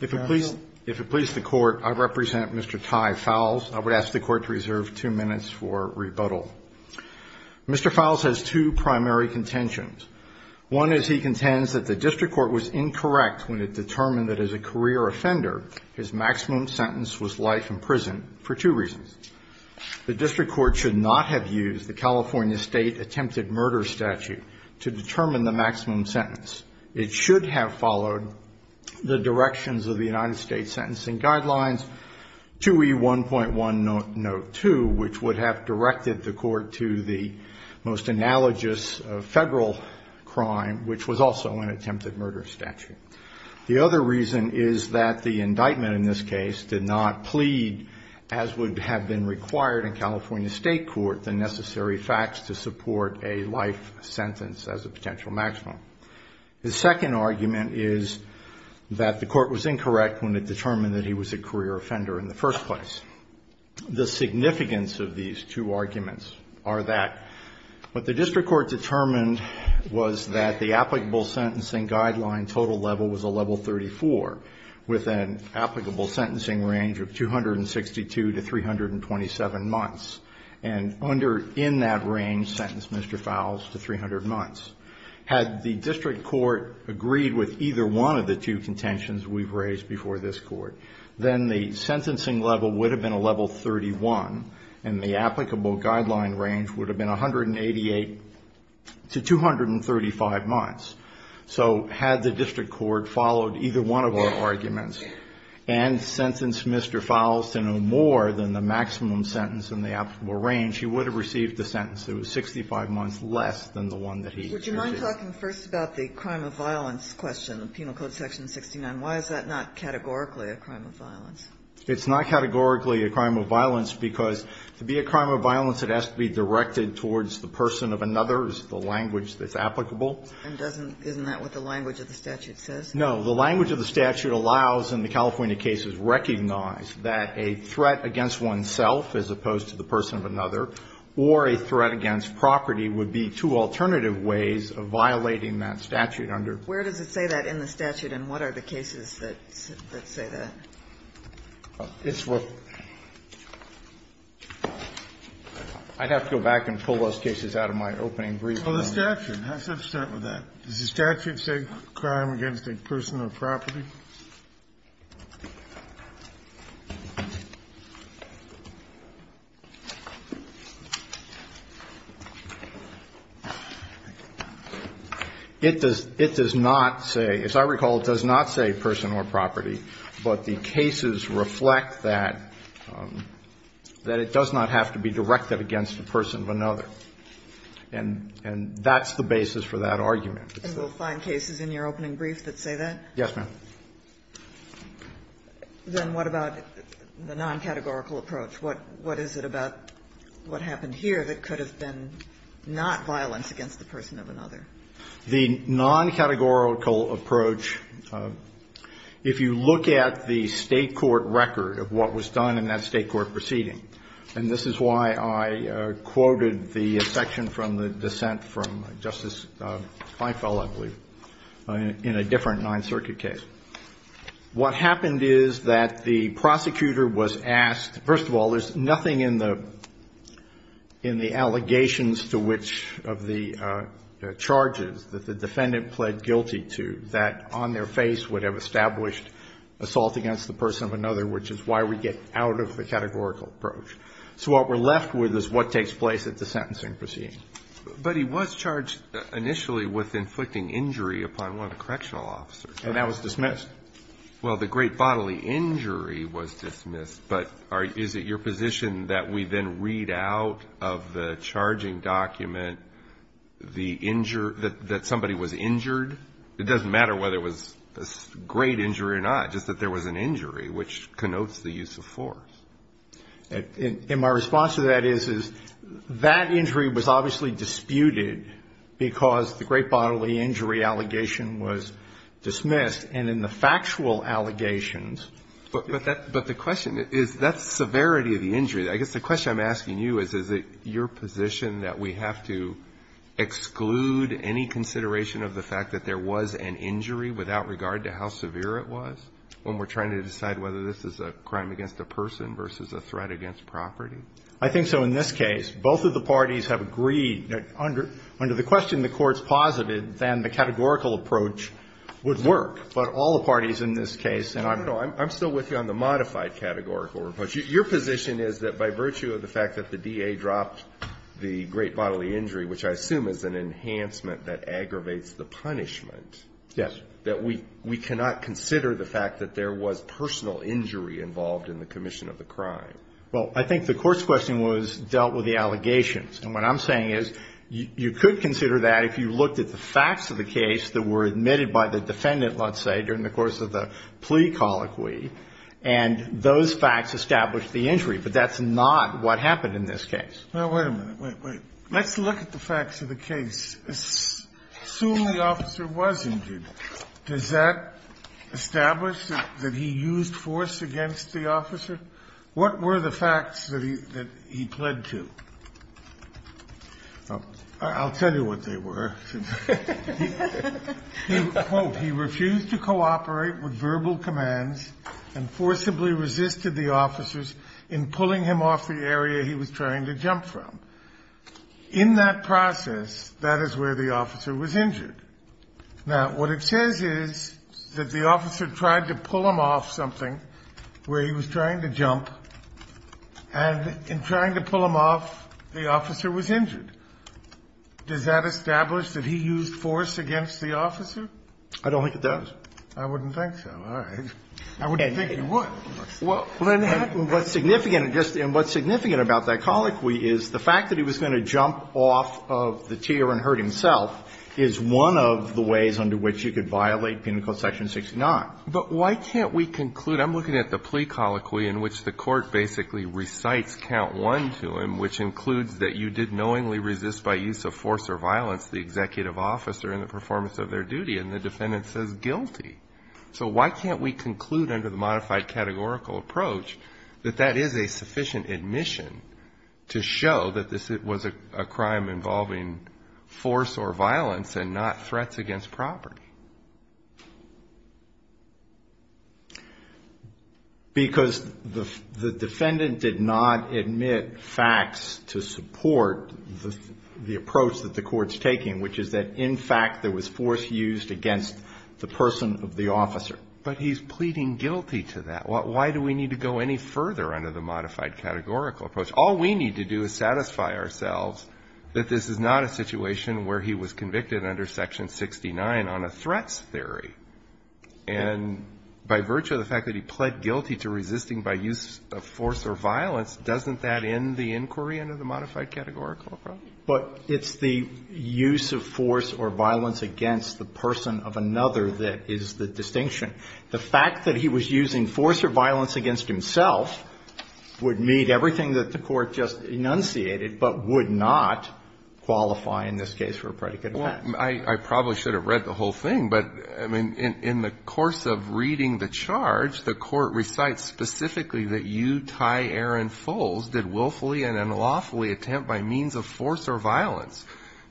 If it please the Court, I represent Mr. Ty Fowles. I would ask the Court to reserve two minutes for rebuttal. Mr. Fowles has two primary contentions. One is he contends that the District Court was incorrect when it determined that as a career offender, his maximum sentence was life in prison for two reasons. The District Court should not have used the California State attempted murder statute to determine the maximum sentence. It should have followed the directions of the United States Sentencing Guidelines 2E1.102, which would have directed the Court to the most analogous federal crime, which was also an attempted murder statute. The other reason is that the indictment in this case did not plead, as would have been required in California State court, the necessary facts to support a life sentence as a potential maximum. The second argument is that the Court was incorrect when it determined that he was a career offender in the first place. The significance of these two arguments are that what the District Court determined was that the applicable sentencing guideline total level was a level 34, with an applicable sentencing range of 262 to 327 months. And under, in that range, sentenced Mr. Fowles to 300 months. Had the District Court agreed with either one of the two contentions we've raised before this Court, then the sentencing level would have been a level 31, and the applicable guideline range would have been 188 to 235 months. So had the District Court followed either one of our arguments and sentenced Mr. Fowles to no more than the maximum sentence in the applicable range, he would have received the sentence that was 65 months less than the one that he used. Kagan, would you mind talking first about the crime of violence question, Penal Code Section 69? Why is that not categorically a crime of violence? It's not categorically a crime of violence because to be a crime of violence, it has to be directed towards the person of another. It's the language that's applicable. And doesn't, isn't that what the language of the statute says? No. The language of the statute allows, in the California cases, recognize that a threat against oneself as opposed to the person of another or a threat against property would be two alternative ways of violating that statute under. Where does it say that in the statute, and what are the cases that say that? I'd have to go back and pull those cases out of my opening brief. Well, the statute has to start with that. Does the statute say crime against a person or property? It does not say, as I recall, it does not say person or property. But the cases reflect that, that it does not have to be directed against a person of another. And that's the basis for that argument. And we'll find cases in your opening brief that say that? Yes, ma'am. Then what about the non-categorical approach? What is it about what happened here that could have been not violence against the person of another? The non-categorical approach, if you look at the State court record of what was done in that State court proceeding, and this is why I quoted the section from the dissent from Justice Eiffel, I believe, in a different Ninth Circuit case. What happened is that the prosecutor was asked, first of all, there's nothing in the allegations to which of the charges that the defendant pled guilty to that on their face would have established assault against the person of another, which is why we get out of the categorical approach. So what we're left with is what takes place at the sentencing proceeding. But he was charged initially with inflicting injury upon one of the correctional officers. And that was dismissed. Well, the great bodily injury was dismissed, but is it your position that we then read out of the charging document the injury, that somebody was injured? It doesn't matter whether it was a great injury or not, just that there was an injury, which connotes the use of force. And my response to that is, is that injury was obviously disputed because the great bodily injury allegation was dismissed, and in the factual allegations. But the question is, that's severity of the injury. I guess the question I'm asking you is, is it your position that we have to exclude any consideration of the fact that there was an injury without regard to how severe it was when we're trying to decide whether this is a crime against a person versus a threat against property? I think so. In this case, both of the parties have agreed that under the question the courts posited, then the categorical approach would work. But all the parties in this case, and I don't know, I'm still with you on the modified categorical approach. Your position is that by virtue of the fact that the DA dropped the great bodily injury, which I assume is an enhancement that aggravates the punishment, that we cannot consider the fact that there was personal injury involved in the commission of the crime. Well, I think the court's question was dealt with the allegations. And what I'm saying is, you could consider that if you looked at the facts of the case that were admitted by the defendant, let's say, during the course of the plea colloquy, and those facts established the injury. But that's not what happened in this case. Now, wait a minute. Wait, wait. Let's look at the facts of the case. Assume the officer was injured. Does that establish that he used force against the officer? What were the facts that he pled to? I'll tell you what they were. He, quote, he refused to cooperate with verbal commands and forcibly resisted the officers in pulling him off the area he was trying to jump from. Now, what it says is that the officer tried to pull him off something where he was trying to jump, and in trying to pull him off, the officer was injured. Does that establish that he used force against the officer? I don't think it does. I wouldn't think so. All right. I wouldn't think he would. Well, what's significant, and what's significant about that colloquy is the fact that he was going to jump off of the tier and hurt himself is one of the ways under which you could violate Penal Code section 69. But why can't we conclude? I'm looking at the plea colloquy in which the Court basically recites count one to him, which includes that you did knowingly resist by use of force or violence the executive officer in the performance of their duty, and the defendant says guilty. So why can't we conclude under the modified categorical approach that that is a sufficient admission to show that this was a crime involving force or violence and not threats against property? Because the defendant did not admit facts to support the approach that the Court's taking, which is that, in fact, there was force used against the person of the officer. But he's pleading guilty to that. Why do we need to go any further under the modified categorical approach? All we need to do is satisfy ourselves that this is not a situation where he was convicted under section 69 on a threats theory. And by virtue of the fact that he pled guilty to resisting by use of force or violence, doesn't that end the inquiry under the modified categorical approach? But it's the use of force or violence against the person of another that is the distinction. The fact that he was using force or violence against himself would meet everything that the Court just enunciated, but would not qualify in this case for a predicate effect. Well, I probably should have read the whole thing. But, I mean, in the course of reading the charge, the Court recites specifically that you, Ty Aaron Foles, did willfully and unlawfully attempt by means of force or violence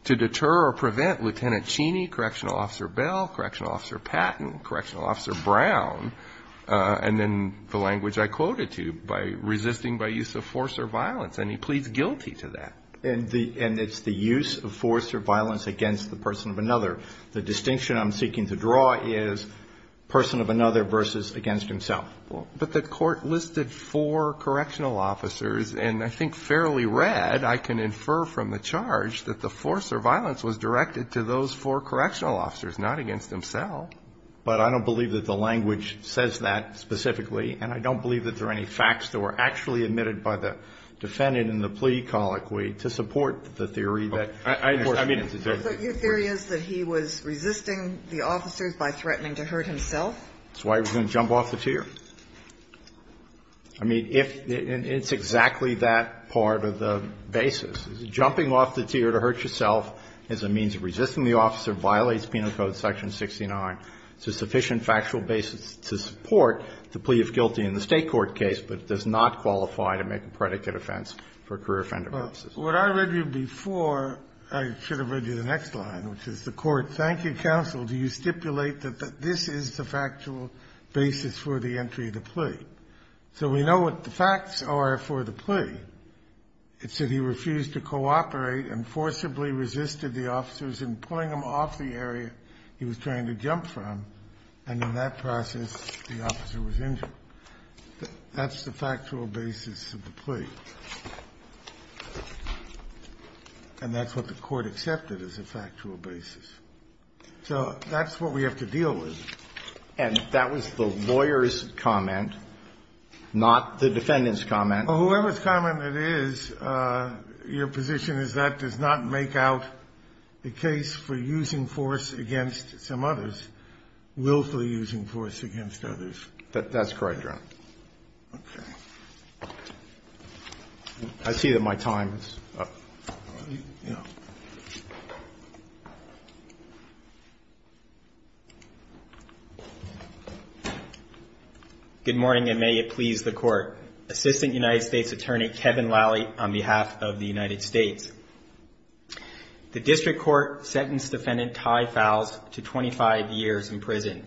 to deter or prevent Lieutenant Cheney, Correctional Officer Bell, Correctional Officer Brown, and then the language I quoted to you, by resisting by use of force or violence. And he pleads guilty to that. And it's the use of force or violence against the person of another. The distinction I'm seeking to draw is person of another versus against himself. But the Court listed four correctional officers, and I think fairly read, I can infer from the charge that the force or violence was directed to those four correctional officers, not against himself. But I don't believe that the language says that specifically, and I don't believe that there are any facts that were actually admitted by the defendant in the plea colloquy to support the theory that, of course, he did. Your theory is that he was resisting the officers by threatening to hurt himself? That's why he was going to jump off the tier. I mean, it's exactly that part of the basis. Jumping off the tier to hurt yourself as a means of resisting the officer violates Penal Code section 69. It's a sufficient factual basis to support the plea of guilty in the State court case, but it does not qualify to make a predicate offense for a career offender basis. Kennedy. Well, what I read to you before, I should have read you the next line, which is the Court, thank you, counsel, do you stipulate that this is the factual basis for the entry of the plea? So we know what the facts are for the plea. It said he refused to cooperate and forcibly resisted the officers in pulling him off the area he was trying to jump from. And in that process, the officer was injured. That's the factual basis of the plea. And that's what the Court accepted as a factual basis. So that's what we have to deal with. And that was the lawyer's comment, not the defendant's comment. Whoever's comment it is, your position is that does not make out the case for using force against some others, willfully using force against others. That's correct, Your Honor. Okay. I see that my time is up. Good morning, and may it please the Court. Assistant United States Attorney Kevin Lally on behalf of the United States. The district court sentenced defendant Ty Fowles to 25 years in prison,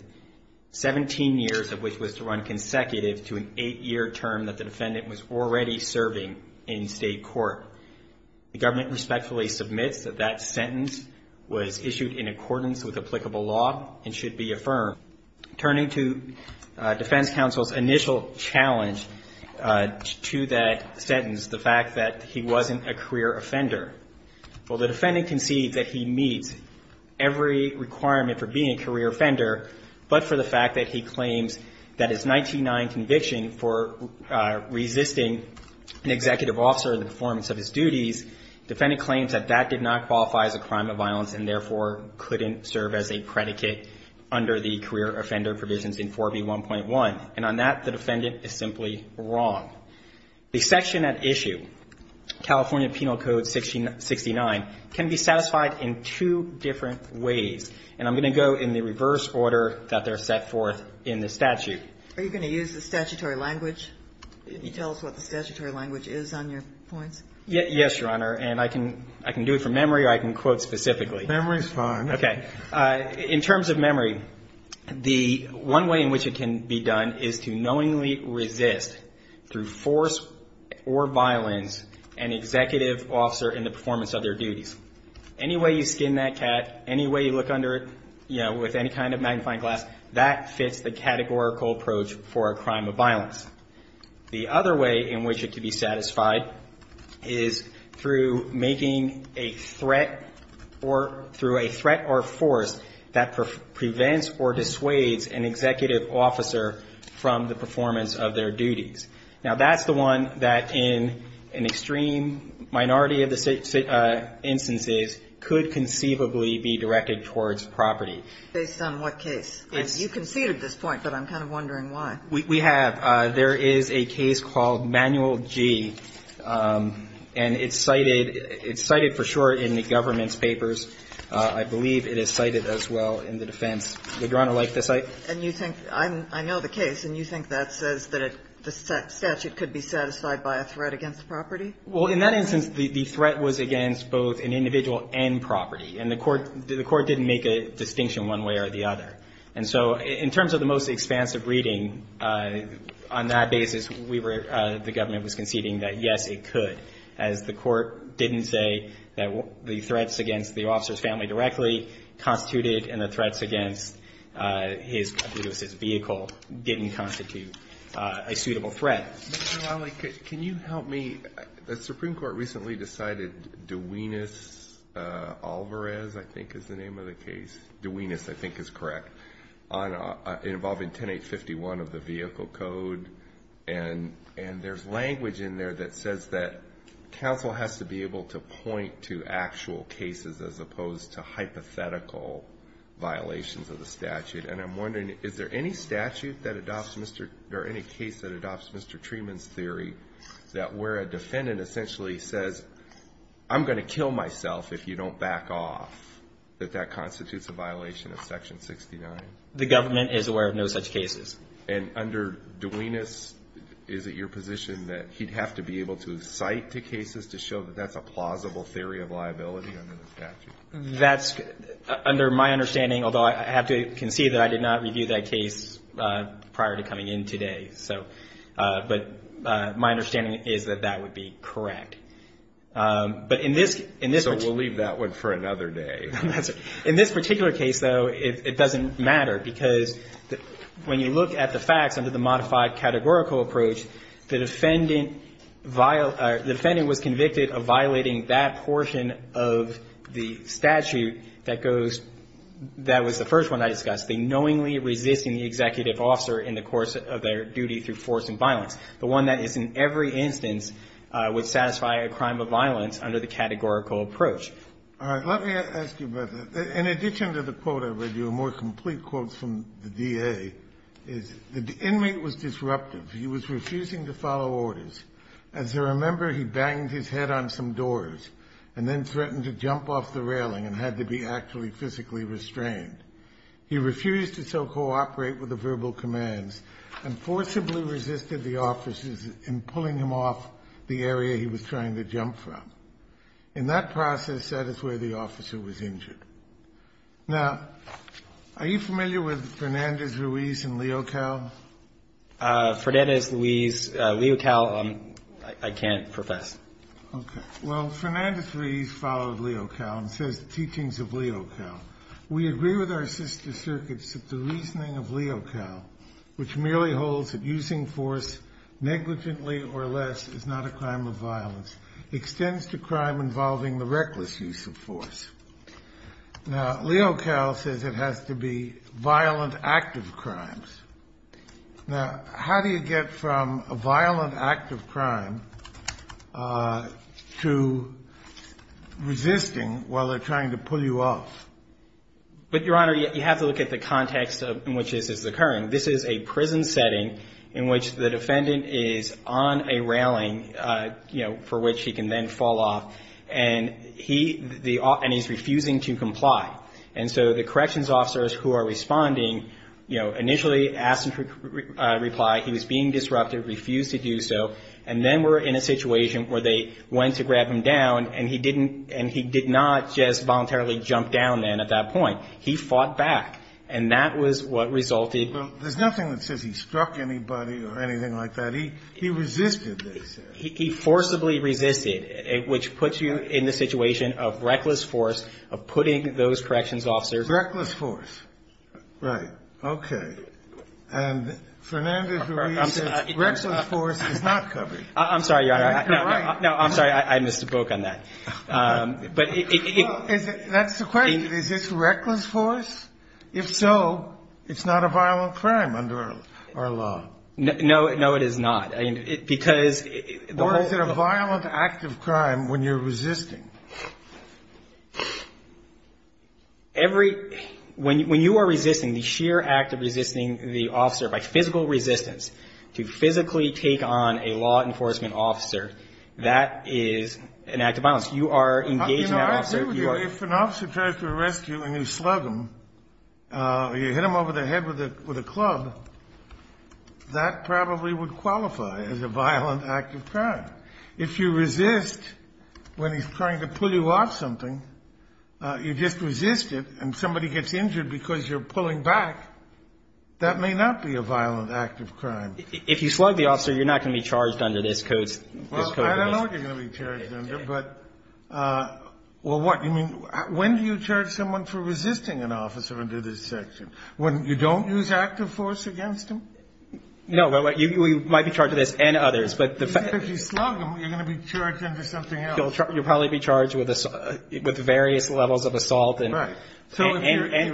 17 years of which was to run consecutive to an eight-year term that the defendant was already serving in state court. The government respectfully submits that that sentence was issued in accordance with applicable law and should be affirmed. Turning to defense counsel's initial challenge to that sentence, the fact that he wasn't a career offender. Well, the defendant concedes that he meets every requirement for being a career offender, but for the fact that he claims that his 19-9 conviction for resisting an executive officer in the performance of his duties, defendant claims that that did not qualify as a crime of violence and therefore couldn't serve as a predicate under the career offender provisions in 4B1.1. And on that, the defendant is simply wrong. The section at issue, California Penal Code 69, can be satisfied in two different ways, and I'm going to go in the reverse order that they're set forth in the statute. Are you going to use the statutory language? Can you tell us what the statutory language is on your points? Yes, Your Honor, and I can do it from memory or I can quote specifically. Memory is fine. Okay. In terms of memory, the one way in which it can be done is to knowingly resist through force or violence an executive officer in the performance of their duties. Any way you skin that cat, any way you look under it, you know, with any kind of magnifying glass, that fits the categorical approach for a crime of violence. The other way in which it can be satisfied is through making a threat or through a threat or force that prevents or dissuades an executive officer from the performance of their duties. Now, that's the one that in an extreme minority of the instances could conceivably be directed towards property. Based on what case? You conceded this point, but I'm kind of wondering why. We have. There is a case called Manual G, and it's cited for sure in the government's defense. I believe it is cited as well in the defense. Would Your Honor like to cite? And you think, I know the case, and you think that says that the statute could be satisfied by a threat against property? Well, in that instance, the threat was against both an individual and property. And the Court didn't make a distinction one way or the other. And so in terms of the most expansive reading, on that basis, we were, the government was conceding that, yes, it could, as the Court didn't say that the threats against the officer's family directly constituted, and the threats against his vehicle didn't constitute a suitable threat. Mr. Lally, can you help me? The Supreme Court recently decided Duenas-Alvarez, I think is the name of the case. Duenas, I think, is correct. Involving 10-851 of the vehicle code. And there's language in there that says that counsel has to be able to point to actual cases as opposed to hypothetical violations of the statute. And I'm wondering, is there any statute that adopts Mr. or any case that adopts Mr. Treeman's theory that where a defendant essentially says, I'm going to kill myself if you don't back off, that that constitutes a violation of Section 69? The government is aware of no such cases. And under Duenas, is it your position that he'd have to be able to cite the cases to show that that's a plausible theory of liability under the statute? That's under my understanding, although I have to concede that I did not review that case prior to coming in today. But my understanding is that that would be correct. So we'll leave that one for another day. In this particular case, though, it doesn't matter, because when you look at the facts under the modified categorical approach, the defendant was convicted of violating that portion of the statute that goes – that was the first one I discussed, the knowingly resisting the executive officer in the course of their duty through force and violence, the one that is in every instance would satisfy a crime of violence under the categorical approach. All right. Let me ask you about that. In addition to the quote I read you, a more complete quote from the DA, is the inmate was disruptive. He was refusing to follow orders. As I remember, he banged his head on some doors and then threatened to jump off the railing and had to be actually physically restrained. He refused to so cooperate with the verbal commands and forcibly resisted the officers in pulling him off the area he was trying to jump from. In that process, that is where the officer was injured. Now, are you familiar with Fernandez, Ruiz, and Leocal? Fernandez, Ruiz, Leocal, I can't profess. Okay. Well, Fernandez, Ruiz followed Leocal and says the teachings of Leocal. We agree with our sister circuits that the reasoning of Leocal, which merely holds to crime involving the reckless use of force. Now, Leocal says it has to be violent, active crimes. Now, how do you get from a violent, active crime to resisting while they're trying to pull you off? But, Your Honor, you have to look at the context in which this is occurring. This is a prison setting in which the defendant is on a railing, you know, for which he can then fall off, and he's refusing to comply. And so the corrections officers who are responding, you know, initially asked him to reply. He was being disrupted, refused to do so, and then were in a situation where they went to grab him down, and he did not just voluntarily jump down then at that point. He fought back, and that was what resulted. Well, there's nothing that says he struck anybody or anything like that. He resisted, they said. He forcibly resisted, which puts you in the situation of reckless force, of putting those corrections officers. Reckless force. Right. Okay. And Fernandez, Ruiz, says reckless force is not covered. I'm sorry, Your Honor. You're right. No, I'm sorry. I missed the book on that. That's the question. Is this reckless force? If so, it's not a violent crime under our law. No, it is not. Because the whole thing. Or is it a violent act of crime when you're resisting? Every ñ when you are resisting, the sheer act of resisting the officer by physical resistance, I would say if an officer tries to arrest you and you slug him, you hit him over the head with a club, that probably would qualify as a violent act of crime. If you resist when he's trying to pull you off something, you just resist it, and somebody gets injured because you're pulling back, that may not be a violent act of crime. If you slug the officer, you're not going to be charged under this code. Well, I don't know what you're going to be charged under, but ñ well, what? You mean ñ when do you charge someone for resisting an officer under this section? When you don't use active force against him? No, you might be charged with this and others, but the fact ñ If you slug him, you're going to be charged under something else. You'll probably be charged with various levels of assault and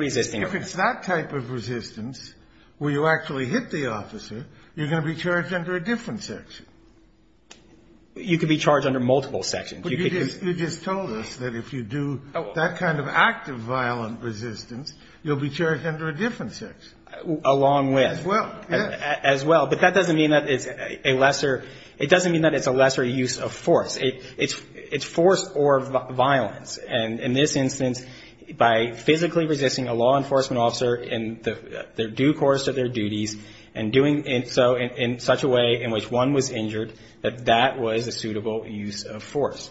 resisting. If it's that type of resistance where you actually hit the officer, you're going to be charged under a different section. You could be charged under multiple sections. But you just told us that if you do that kind of active violent resistance, you'll be charged under a different section. Along with. As well. As well. But that doesn't mean that it's a lesser ñ it doesn't mean that it's a lesser use of force. It's force or violence. And in this instance, by physically resisting a law enforcement officer in their due course of their duties and doing so in such a way in which one was injured, that that was a suitable use of force.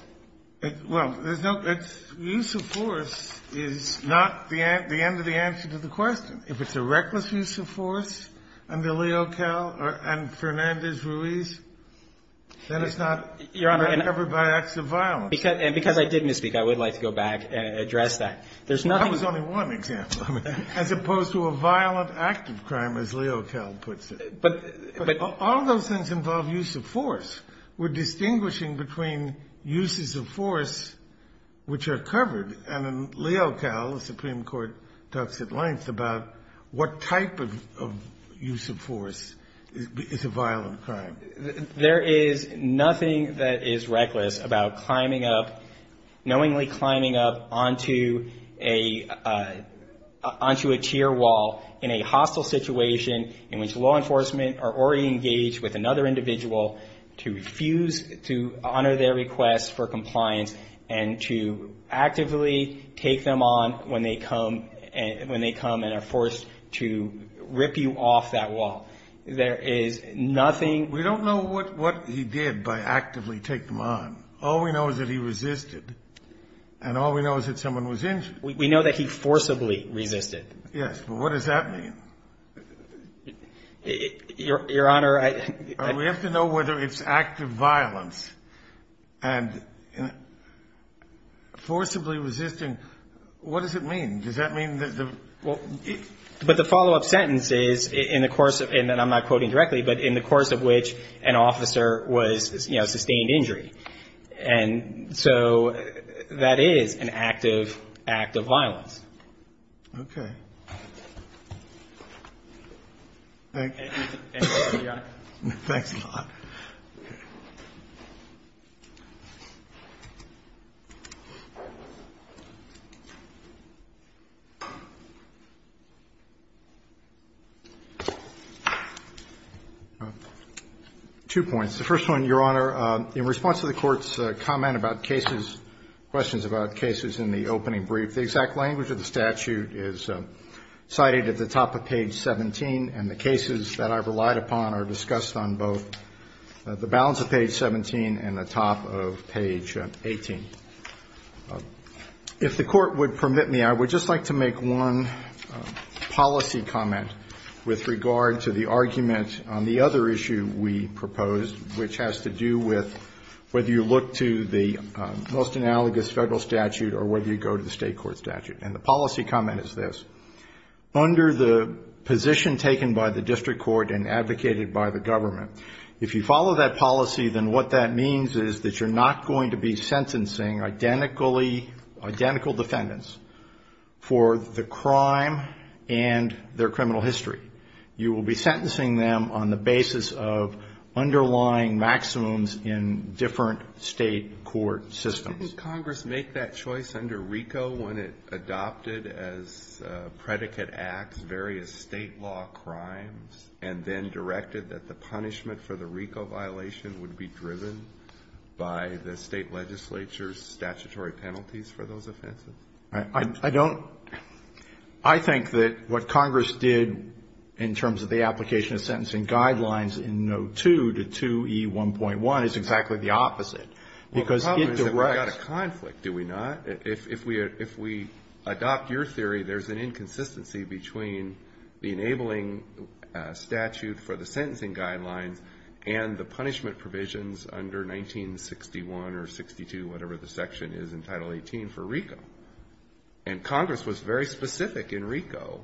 Well, there's no ñ use of force is not the end of the answer to the question. If it's a reckless use of force under Leo Kell and Fernandez-Ruiz, then it's not covered by acts of violence. And because I did misspeak, I would like to go back and address that. There's nothing ñ That was only one example, as opposed to a violent act of crime, as Leo Kell puts it. But ñ but ñ All those things involve use of force. We're distinguishing between uses of force which are covered. And in Leo Kell, the Supreme Court talks at length about what type of use of force is a violent crime. There is nothing that is reckless about climbing up ñ knowingly climbing up onto a ñ onto a tier wall in a hostile situation in which law enforcement are already engaged with another individual to refuse to honor their request for compliance and to actively take them on when they come ñ when they come and are forced to rip you off that wall. There is nothing ñ We don't know what ñ what he did by actively take them on. All we know is that he resisted. And all we know is that someone was injured. We know that he forcibly resisted. Yes. But what does that mean? Your Honor, I ñ We have to know whether it's act of violence and forcibly resisting. What does it mean? Does that mean that the ñ Well, but the follow-up sentence is in the course of ñ and I'm not quoting directly, but in the course of which an officer was, you know, sustained injury. And so that is an act of ñ act of violence. Okay. Thank you. Your Honor. Thanks a lot. Two points. The first one, Your Honor, in response to the Court's comment about cases, questions about cases in the opening brief, the exact language of the statute is cited at the top of page 18. If the Court would permit me, I would just like to make one policy comment with regard to the argument on the other issue we proposed, which has to do with whether you look to the most analogous Federal statute or whether you go to the State court statute. And the policy comment is this. If you follow that policy, then what that means is that you're not going to be sentencing identically ñ identical defendants for the crime and their criminal history. You will be sentencing them on the basis of underlying maximums in different State court systems. Didn't Congress make that choice under RICO when it adopted as predicate acts various State law crimes and then directed that the punishment for the RICO violation would be driven by the State legislature's statutory penalties for those offenses? I don't ñ I think that what Congress did in terms of the application of sentencing guidelines in no. 2 to 2E1.1 is exactly the opposite. Well, the problem is that we've got a conflict, do we not? If we adopt your theory, there's an inconsistency between the enabling statute for the sentencing guidelines and the punishment provisions under 1961 or 62, whatever the section is in Title 18 for RICO. And Congress was very specific in RICO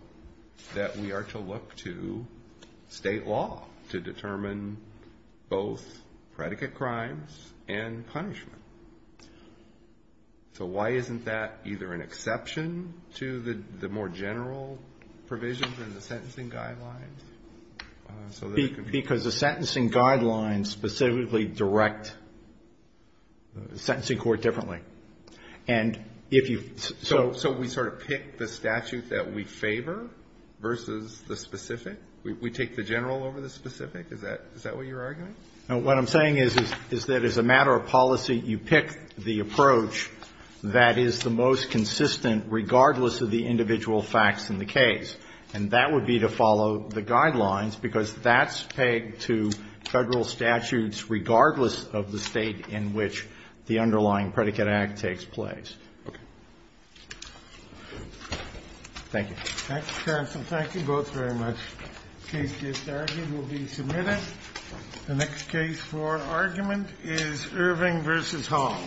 that we are to look to State law to determine both predicate crimes and punishment. So why isn't that either an exception to the more general provision in the sentencing guidelines? Because the sentencing guidelines specifically direct the sentencing court differently. And if you ñ So we sort of pick the statute that we favor versus the specific? We take the general over the specific? Is that what you're arguing? What I'm saying is that as a matter of policy, you pick the approach that is the most consistent regardless of the individual facts in the case. And that would be to follow the guidelines because that's pegged to Federal statutes regardless of the State in which the underlying predicate act takes place. Thank you. Thank you, counsel. Thank you both very much. The next case for argument is Irving v. Hall.